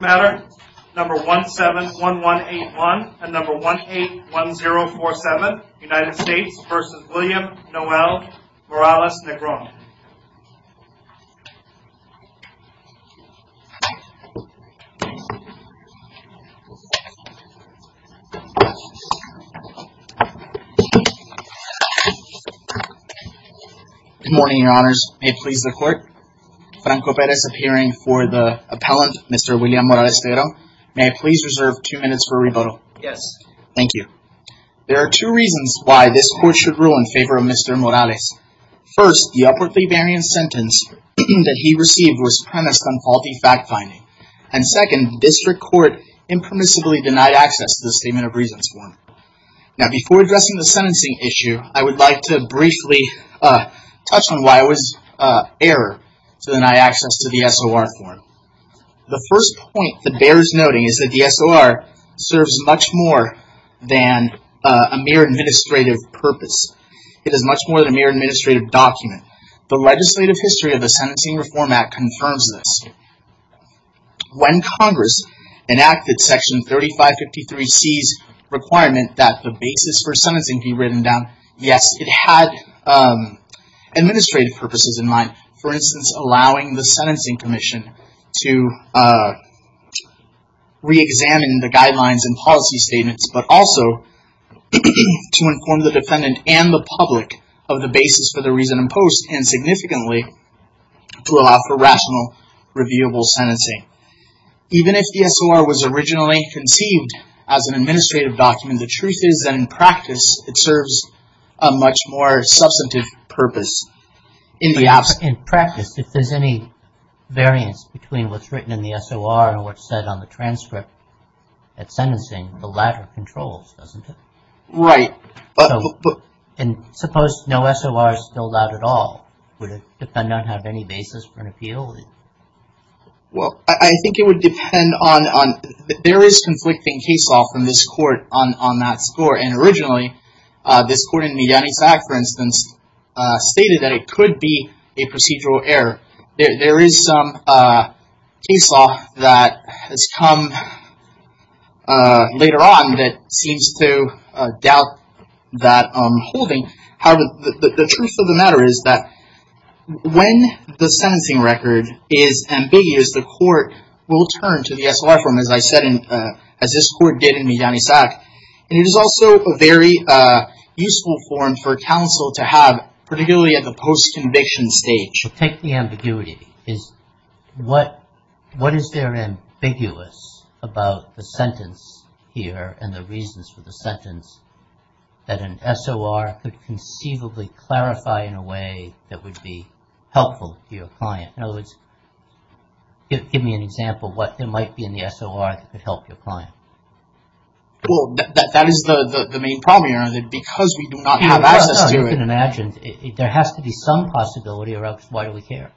matter number 171181 and number 181047 United States v. William Noel Morales-Negron Good morning, your honors. May it please the court. Franco Perez appearing for the appellant Mr. William Morales-Negron. May I please reserve two minutes for rebuttal? Yes. Thank you. There are two reasons why this court should rule in favor of Mr. Morales. First, the upwardly variant sentence that he received was premised on faulty fact-finding. And second, district court impermissibly denied access to the Statement of Reasons form. Now before addressing the sentencing issue, I would like to briefly touch on why it was error to deny access to the SOR form. The first point that bears noting is that the SOR serves much more than a mere administrative purpose. It is much more than a mere administrative document. The legislative history of the Sentencing Reform Act confirms this. When Congress enacted Section 3553C's requirement that the basis for sentencing be written down, yes, it had administrative purposes in mind. For instance, allowing the Sentencing Commission to re-examine the guidelines and policy statements, but also to inform the defendant and the public of the basis for the reason imposed and significantly to allow for rational, reviewable sentencing. Even if the SOR was originally conceived as an administrative document, the truth is that in practice it serves a much more substantive purpose. In practice, if there's any variance between what's written in the SOR and what's said on the transcript at sentencing, the latter controls, doesn't it? Right. And suppose no SOR is filled out at all. Would a defendant have any basis for an appeal? Well, I think it would depend on, there is conflicting case law from this court on that score. And originally, this court in Mediani-Sac, for instance, stated that it could be a procedural error. There is some case law that has come later on that seems to doubt that holding. However, the truth of the matter is that when the sentencing record is ambiguous, the court will turn to the SOR form, as I said, as this court did in Mediani-Sac. And it is also a very useful form for counsel to have, particularly at the post-conviction stage. So take the ambiguity. What is there ambiguous about the sentence here and the reasons for the sentence that an SOR could conceivably clarify in a way that would be helpful to your client? In other words, give me an example of what there might be in the SOR that could help your client. Well, that is the main problem here. Because we do not have access to it. As you can imagine, there has to be some possibility or else why do we care?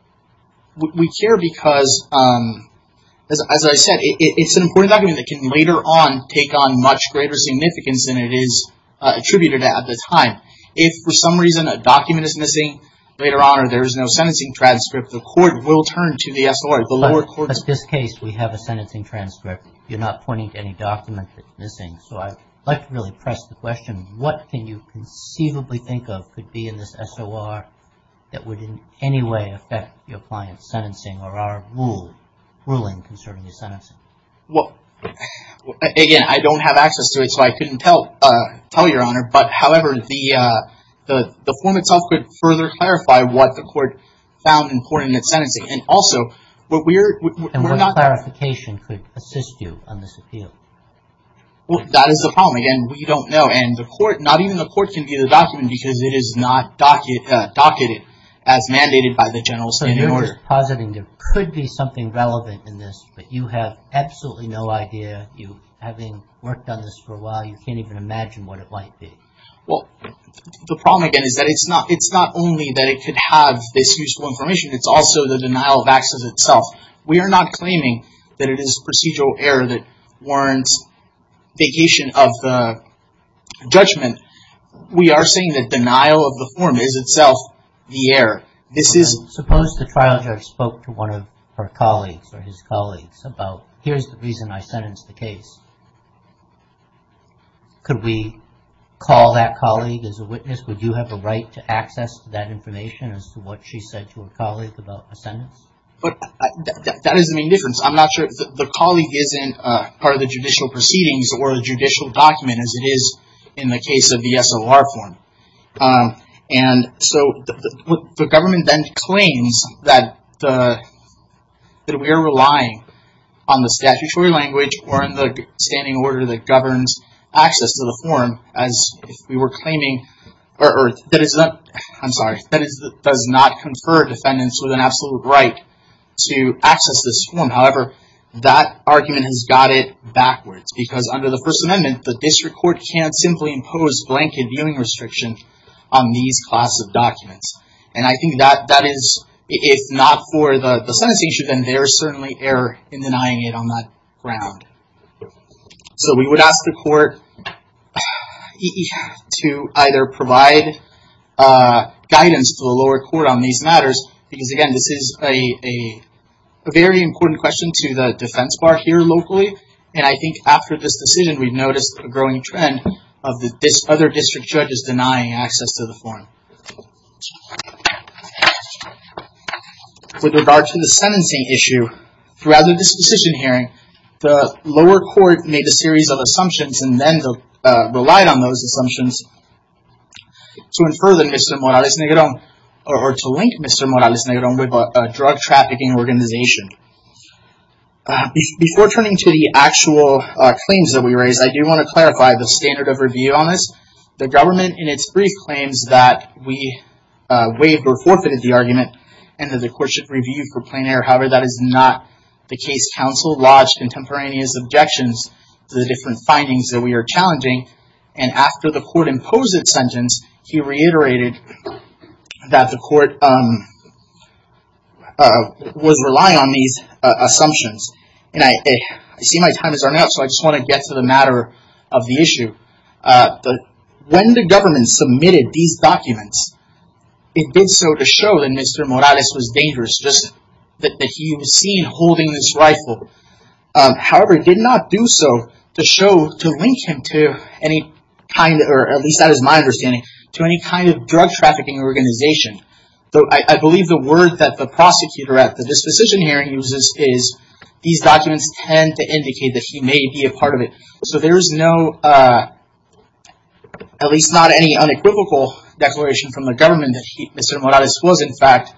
We care because, as I said, it is an important document that can later on take on much greater significance than it is attributed at the time. If for some reason a document is missing later on or there is no sentencing transcript, the court will turn to the SOR. But in this case, we have a sentencing transcript. You are not pointing to any document that is missing. So I would like to really press the question, what can you conceivably think of could be in this SOR that would in any way affect your client's sentencing or our ruling concerning the sentencing? Well, again, I don't have access to it so I couldn't tell you, Your Honor. But however, the form itself could further clarify what the court found important in its sentencing. And also, what we are... And what clarification could assist you on this appeal? Well, that is the problem. Again, we don't know. And the court... Not even the court can view the document because it is not docketed as mandated by the General Assembly. So you're just positing there could be something relevant in this, but you have absolutely no idea. Having worked on this for a while, you can't even imagine what it might be. Well, the problem, again, is that it's not only that it could have this useful information. It's also the denial of access itself. We are not claiming that it is procedural error that warrants vacation of the judgment. We are saying that denial of the form is itself the error. Suppose the trial judge spoke to one of her colleagues or his colleagues about, here's the reason I sentenced the case. Could we call that colleague as a witness? Would you have the right to access that information as to what she said to her colleague about a sentence? But that is the main difference. I'm not sure. The colleague isn't part of the judicial proceedings or the judicial document as it is in the case of the SOR form. And so the government then claims that we are relying on the statutory language or on the standing order that governs access to the form as if we were claiming... I'm sorry. That does not confer defendants with an absolute right to access this form. However, that argument has got it backwards because under the First Amendment, the district court can't simply impose blanket viewing restriction on these class of documents. And I think that is, if not for the sentence issue, then there is certainly error in denying it on that ground. So we would ask the court to either provide guidance to the lower court on these matters, because again, this is a very important question to the defense bar here locally. And I think after this decision, we've noticed a growing trend of other district judges denying access to the form. With regard to the sentencing issue, throughout this decision hearing, the lower court made a series of assumptions and then relied on those assumptions to infer that Mr. Morales-Negron or to link Mr. Morales-Negron with a drug trafficking organization. Before turning to the actual claims that we raised, I do want to clarify the standard of review on this. The government in its brief claims that we waived or forfeited the argument and that the court should review for plain error. However, that is not the case. Counsel lodged contemporaneous objections to the different findings that we are challenging. And after the court imposed its sentence, he reiterated that the court was relying on these assumptions. And I see my time is running out, so I just want to get to the matter of the issue. When the government submitted these documents, it did so to show that Mr. Morales was dangerous, just that he was seen holding this rifle. However, it did not do so to show, to link him to any kind, or at least that is my understanding, to any kind of drug trafficking organization. I believe the word that the prosecutor at this decision hearing uses is, these documents tend to indicate that he may be a part of it. So there is no, at least not any unequivocal declaration from the government that Mr. Morales was in fact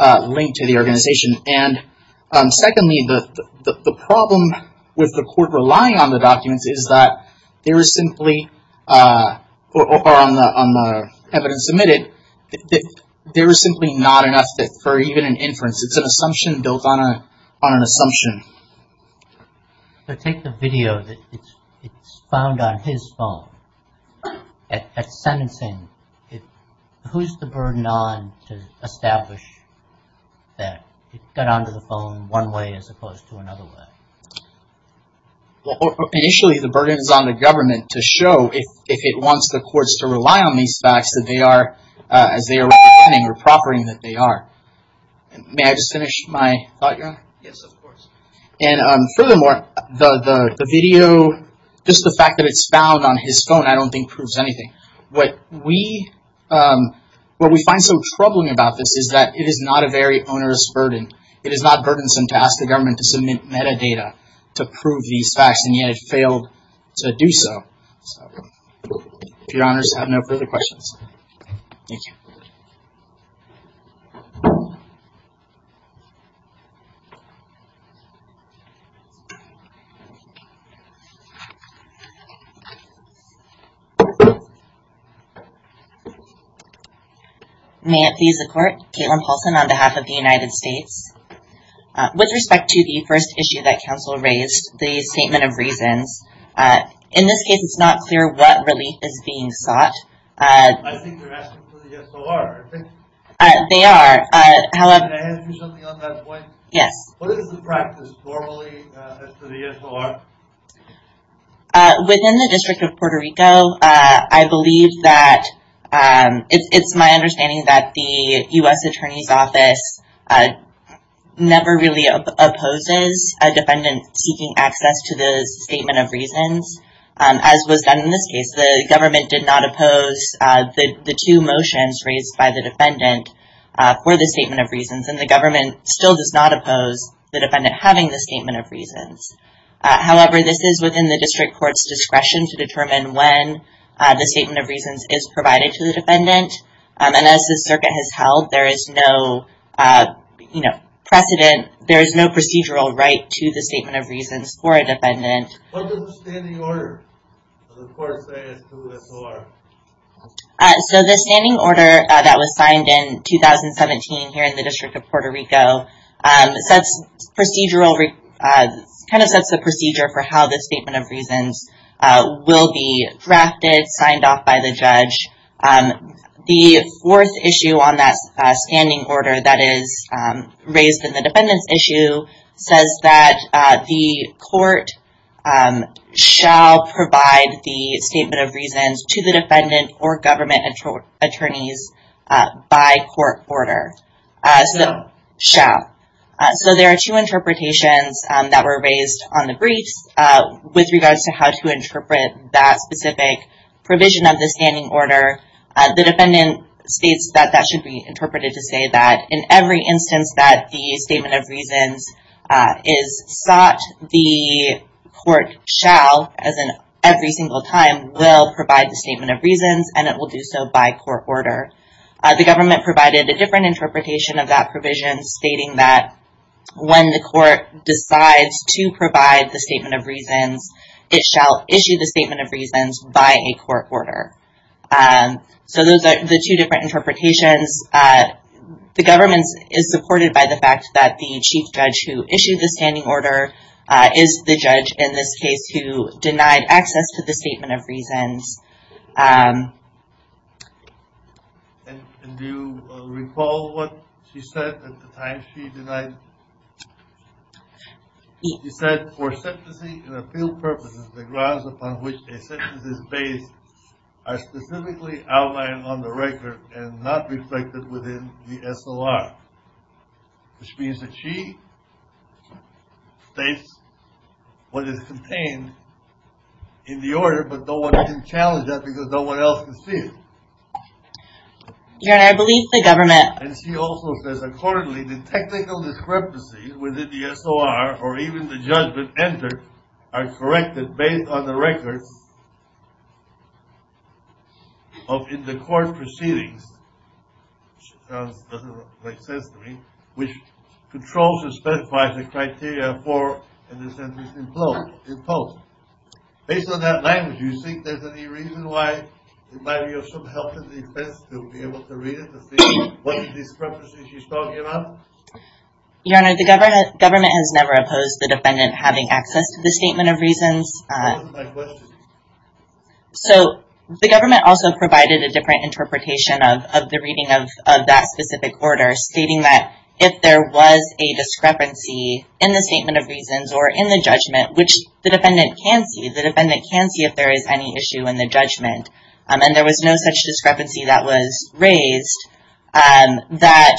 linked to the organization. And secondly, the problem with the court relying on the documents is that there is simply, or on the evidence submitted, there is simply not enough for even an inference. It is an assumption built on an assumption. So take the video that is found on his phone at sentencing. Who is the burden on to establish that it got onto the phone one way as opposed to another way? Initially, the burden is on the government to show if it wants the courts to rely on these facts that they are, as they are recommending or proffering that they are. Yes, of course. And furthermore, the video, just the fact that it is found on his phone, I don't think proves anything. What we find so troubling about this is that it is not a very onerous burden. It is not burdensome to ask the government to submit metadata to prove these facts, and yet it failed to do so. If your honors have no further questions. Thank you. Thank you. May it please the court. Caitlin Paulson on behalf of the United States. With respect to the first issue that counsel raised, the statement of reasons, in this case it is not clear what relief is being sought. I think they are asking for the SOR. They are. Can I answer something on that point? Yes. What is the practice normally for the SOR? Within the District of Puerto Rico, I believe that, it is my understanding that the U.S. Attorney's Office never really opposes a defendant seeking access to the statement of reasons, as was done in this case. The government did not oppose the two motions raised by the defendant for the statement of reasons, and the government still does not oppose the defendant having the statement of reasons. However, this is within the District Court's discretion to determine when the statement of reasons is provided to the defendant. And as the circuit has held, there is no precedent, there is no procedural right to the statement of reasons for a defendant. What does the standing order of the court say as to the SOR? The standing order that was signed in 2017 here in the District of Puerto Rico sets the procedure for how the statement of reasons will be drafted, signed off by the judge. The fourth issue on that standing order that is raised in the defendant's issue says that the court shall provide the statement of reasons to the defendant or government attorneys by court order. So there are two interpretations that were raised on the briefs with regards to how to interpret that specific provision of the standing order. The defendant states that that should be interpreted to say that in every instance that the statement of reasons is sought, the court shall, as in every single time, will provide the statement of reasons and it will do so by court order. The government provided a different interpretation of that provision stating that when the court decides to provide the statement of reasons, it shall issue the statement of reasons by a court order. So those are the two different interpretations. The government is supported by the fact that the chief judge who issued the standing order is the judge in this case who denied access to the statement of reasons. And do you recall what she said at the time she denied? She said, for sentencing and appeal purposes, the grounds upon which a sentence is based are specifically outlined on the record and not reflected within the S.O.R. Which means that she states what is contained in the order, but no one can challenge that because no one else can see it. And she also says, accordingly, the technical discrepancies within the S.O.R. or even the judgment entered are corrected based on the records of the court proceedings. It doesn't make sense to me. Which controls and specifies the criteria for a sentence imposed. Based on that language, do you think there's any reason why it might be of some help to the defense to be able to read it to see what discrepancies she's talking about? Your Honor, the government has never opposed the defendant having access to the statement of reasons. What was my question? So, the government also provided a different interpretation of the reading of that specific order, stating that if there was a discrepancy in the statement of reasons or in the judgment, which the defendant can see, the defendant can see if there is any issue in the judgment, and there was no such discrepancy that was raised, that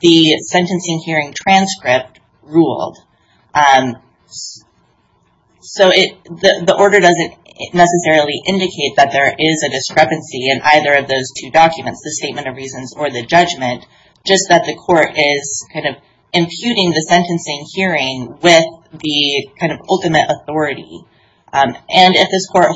the sentencing hearing transcript ruled. So, the order doesn't necessarily indicate that there is a discrepancy in either of those two documents, the statement of reasons or the judgment, just that the court is imputing the sentencing hearing with the ultimate authority. And if this court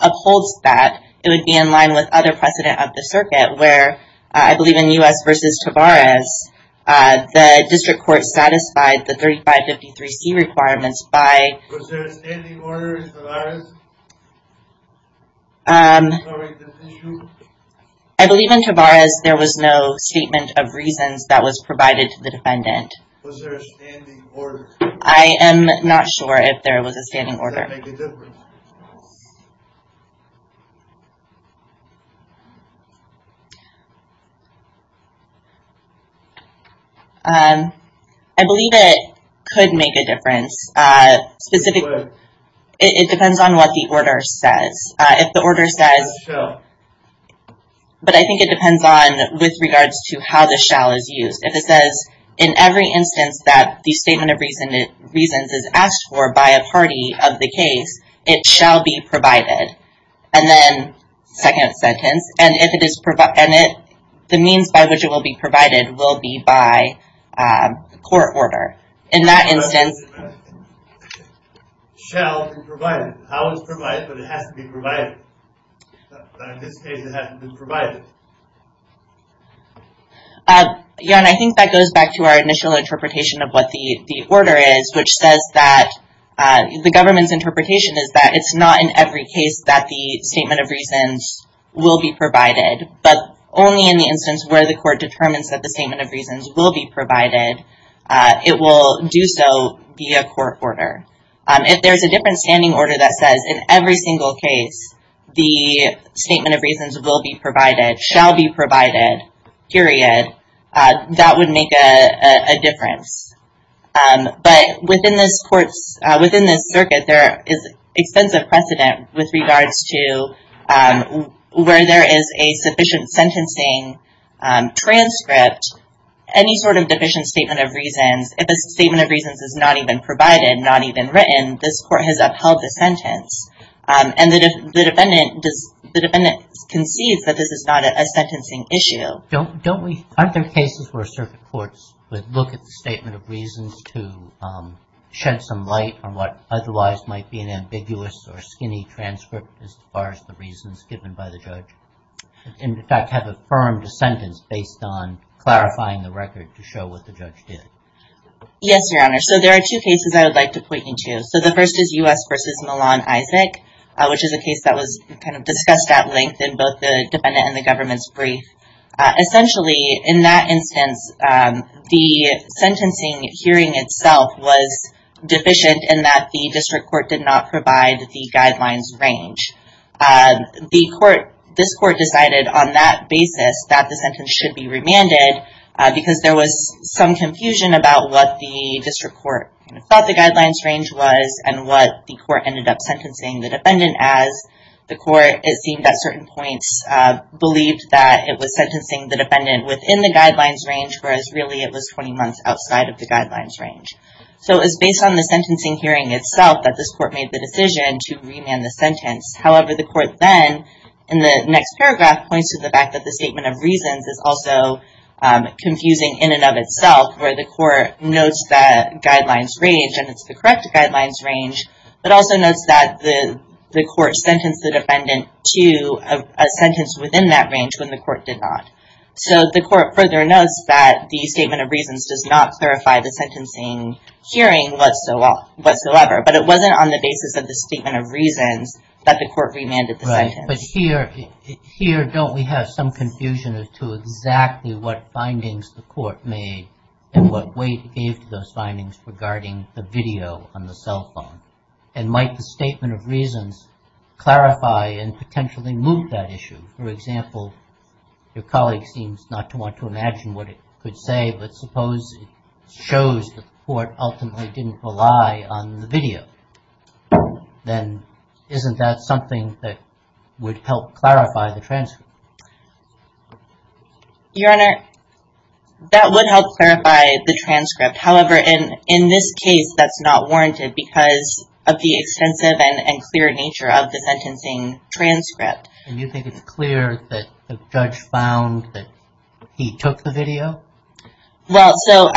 upholds that, it would be in line with other precedent of the circuit, where I believe in U.S. v. Tavares, the district court satisfied the 3553C requirements by... Was there a standing order in Tavares? I believe in Tavares there was no statement of reasons that was provided to the defendant. Was there a standing order? I am not sure if there was a standing order. Does that make a difference? I believe it could make a difference. It depends on what the order says. If the order says... But I think it depends on with regards to how the shall is used. If it says, in every instance that the statement of reasons is asked for by a party of the case, it shall be provided. And then, second sentence, the means by which it will be provided will be by court order. In that instance... Jan, I think that goes back to our initial interpretation of what the order is, which says that the government's interpretation is that it's not in every case that the statement of reasons will be provided, but only in the instance where the court determines that the statement of reasons will be provided, it will do so via court order. If there's a different standing order that says, in every single case, the statement of reasons will be provided, shall be provided, period, that would make a difference. But within this circuit, there is extensive precedent with regards to where there is a sufficient sentencing transcript, any sort of deficient statement of reasons, if a statement of reasons is not even provided, not even written, this court has upheld the sentence. And the defendant concedes that this is not a sentencing issue. Aren't there cases where circuit courts would look at the statement of reasons to shed some light on what otherwise might be an ambiguous or skinny transcript as far as the reasons given by the judge, and in fact have affirmed a sentence based on clarifying the record to show what the judge did? Yes, Your Honor. So there are two cases I would like to point you to. So the first is U.S. v. Milan Isaac, which is a case that was kind of discussed at length in both the defendant and the government's brief. Essentially, in that instance, the sentencing hearing itself was deficient in that the district court did not provide the guidelines range. This court decided on that basis that the sentence should be remanded because there was some confusion about what the district court thought the guidelines range was and what the court ended up sentencing the defendant as. The court, it seemed at certain points, believed that it was sentencing the defendant within the guidelines range, whereas really it was 20 months outside of the guidelines range. So it was based on the sentencing hearing itself that this court made the decision to remand the sentence. However, the court then, in the next paragraph, points to the fact that the statement of reasons is also confusing in and of itself, where the court notes that guidelines range, and it's the correct guidelines range, but also notes that the court sentenced the defendant to a sentence within that range when the court did not. So the court further notes that the statement of reasons does not clarify the sentencing hearing whatsoever, but it wasn't on the basis of the statement of reasons that the court remanded the sentence. But here, don't we have some confusion as to exactly what findings the court made and what weight it gave to those findings regarding the video on the cell phone? And might the statement of reasons clarify and potentially move that issue? For example, your colleague seems not to want to imagine what it could say, but suppose it shows that the court ultimately didn't rely on the video. Then isn't that something that would help clarify the transcript? Your Honor, that would help clarify the transcript. However, in this case, that's not warranted because of the extensive and clear nature of the sentencing transcript. And you think it's clear that the judge found that he took the video? Well, so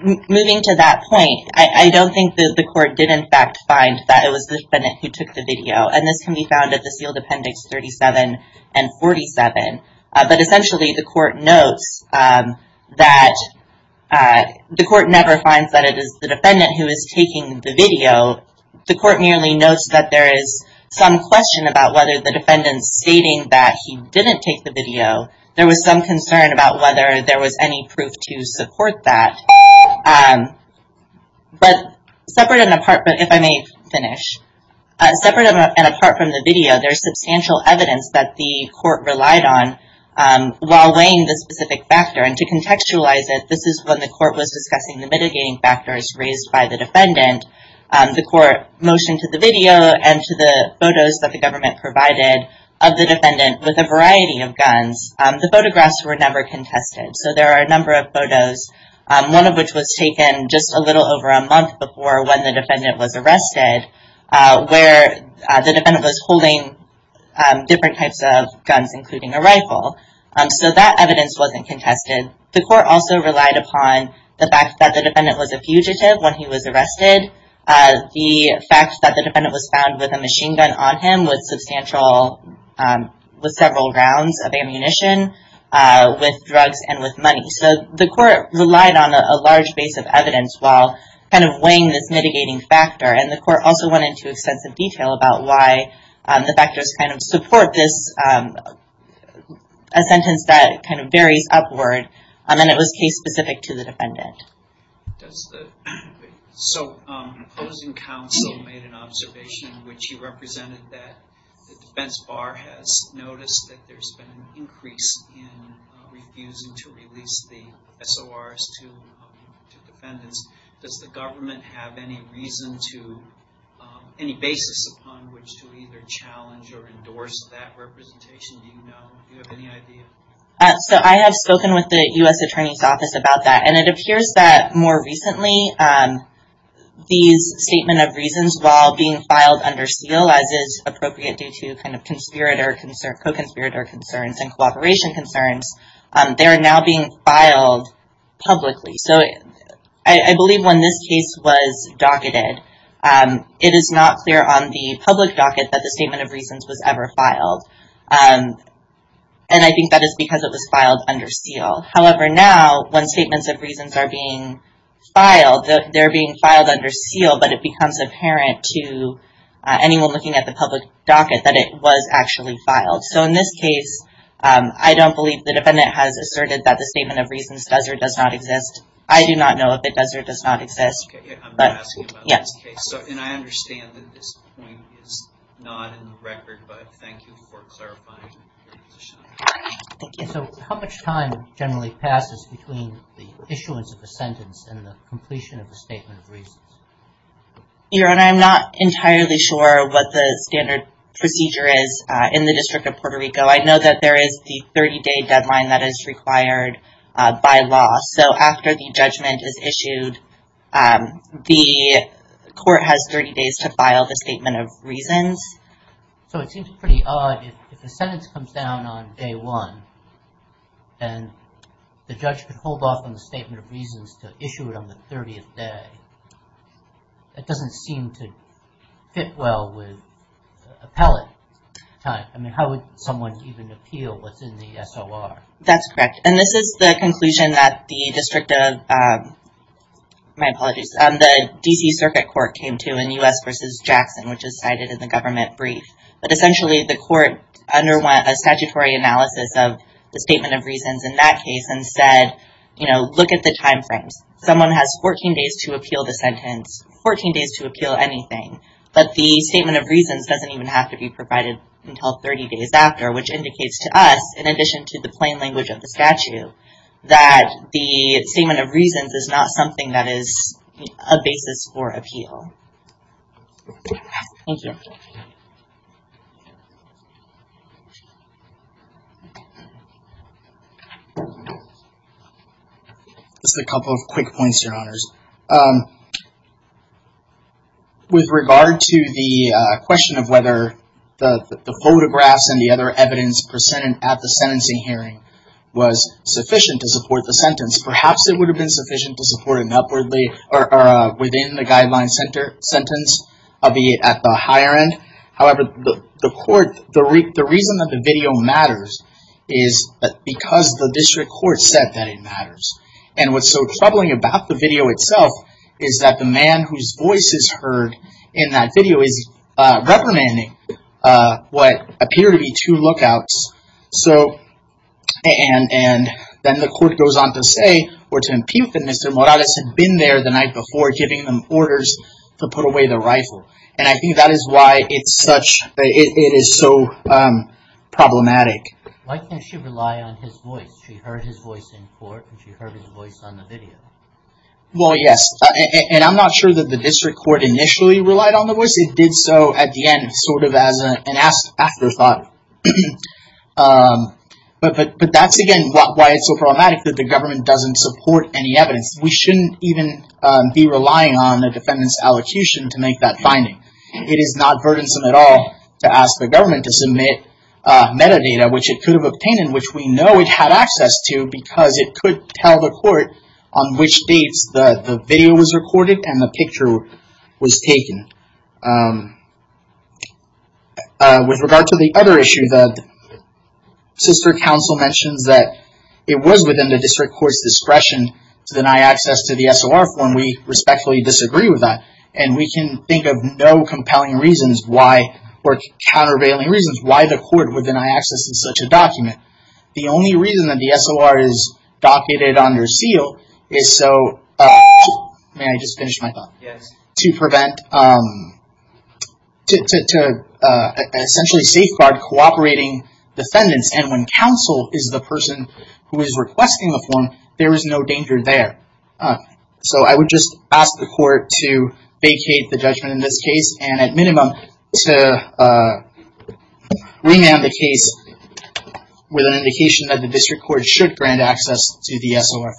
moving to that point, I don't think that the court did in fact find that it was the defendant who took the video. And this can be found at the sealed appendix 37 and 47. But essentially, the court never finds that it is the defendant who is taking the video. The court merely notes that there is some question about whether the defendant's stating that he didn't take the video. There was some concern about whether there was any proof to support that. But separate and apart, if I may finish, separate and apart from the video, there is substantial evidence that the court relied on while weighing the specific factor. And to contextualize it, this is when the court was discussing the mitigating factors raised by the defendant. The court motioned to the video and to the photos that the government provided of the defendant with a variety of guns. The photographs were never contested. So there are a number of photos, one of which was taken just a little over a month before when the defendant was arrested, where the defendant was holding different types of guns, including a rifle. So that evidence wasn't contested. The court also relied upon the fact that the defendant was a fugitive when he was arrested. The fact that the defendant was found with a machine gun on him was substantial, with several rounds of ammunition, with drugs and with money. So the court relied on a large base of evidence while kind of weighing this mitigating factor. And the court also went into extensive detail about why the factors kind of support this, a sentence that kind of varies upward, and it was case-specific to the defendant. So the opposing counsel made an observation in which he represented that the defense bar has noticed that there's been an increase in refusing to release the SORs to defendants. Does the government have any reason to, any basis upon which to either challenge or endorse that representation? Do you know? Do you have any idea? So I have spoken with the U.S. Attorney's Office about that, and it appears that more recently these statement of reasons while being filed under seal, as is appropriate due to kind of conspirator concerns, co-conspirator concerns and cooperation concerns, they are now being filed publicly. So I believe when this case was docketed, it is not clear on the public docket that the statement of reasons was ever filed. And I think that is because it was filed under seal. However, now when statements of reasons are being filed, they're being filed under seal, but it becomes apparent to anyone looking at the public docket that it was actually filed. So in this case, I don't believe the defendant has asserted that the statement of reasons does or does not exist. I do not know if it does or does not exist. Okay, I'm not asking about this case. And I understand that this point is not in the record, but thank you for clarifying your position. Thank you. So how much time generally passes between the issuance of a sentence and the completion of a statement of reasons? Your Honor, I'm not entirely sure what the standard procedure is in the District of Puerto Rico. I know that there is the 30-day deadline that is required by law. So after the judgment is issued, the court has 30 days to file the statement of reasons. So it seems pretty odd. If the sentence comes down on day one and the judge could hold off on the statement of reasons to issue it on the 30th day, that doesn't seem to fit well with appellate time. I mean, how would someone even appeal what's in the SOR? That's correct. And this is the conclusion that the District of, my apologies, the D.C. Circuit Court came to in U.S. v. Jackson, which is cited in the government brief. But essentially, the court underwent a statutory analysis of the statement of reasons in that case and said, you know, look at the timeframes. Someone has 14 days to appeal the sentence, 14 days to appeal anything. But the statement of reasons doesn't even have to be provided until 30 days after, which indicates to us, in addition to the plain language of the statute, that the statement of reasons is not something that is a basis for appeal. Thank you. Just a couple of quick points, Your Honors. With regard to the question of whether the photographs and the other evidence presented at the sentencing hearing was sufficient to support the sentence, perhaps it would have been sufficient to support it upwardly or within the guideline sentence at the higher end. However, the court, the reason that the video matters is because the district court said that it matters. And what's so troubling about the video itself is that the man whose voice is heard in that video is reprimanding what appear to be two lookouts. And then the court goes on to say or to impute that Mr. Morales had been there the night before, giving them orders to put away the rifle. And I think that is why it is so problematic. Why can't she rely on his voice? She heard his voice in court and she heard his voice on the video. Well, yes. And I'm not sure that the district court initially relied on the voice. It did so at the end, sort of as an afterthought. But that's, again, why it's so problematic that the government doesn't support any evidence. We shouldn't even be relying on a defendant's allocution to make that finding. It is not burdensome at all to ask the government to submit metadata, which it could have obtained and which we know it had access to because it could tell the court on which dates the video was recorded and the picture was taken. With regard to the other issue, the sister counsel mentions that it was within the district court's discretion to deny access to the SOR form. We respectfully disagree with that. And we can think of no compelling reasons why or countervailing reasons why the court would deny access to such a document. The only reason that the SOR is docketed under seal is so, may I just finish my thought? Yes. To prevent, to essentially safeguard cooperating defendants. And when counsel is the person who is requesting the form, there is no danger there. So I would just ask the court to vacate the judgment in this case and at minimum to remand the case with an indication that the district court should grant access to the SOR form. Thank you.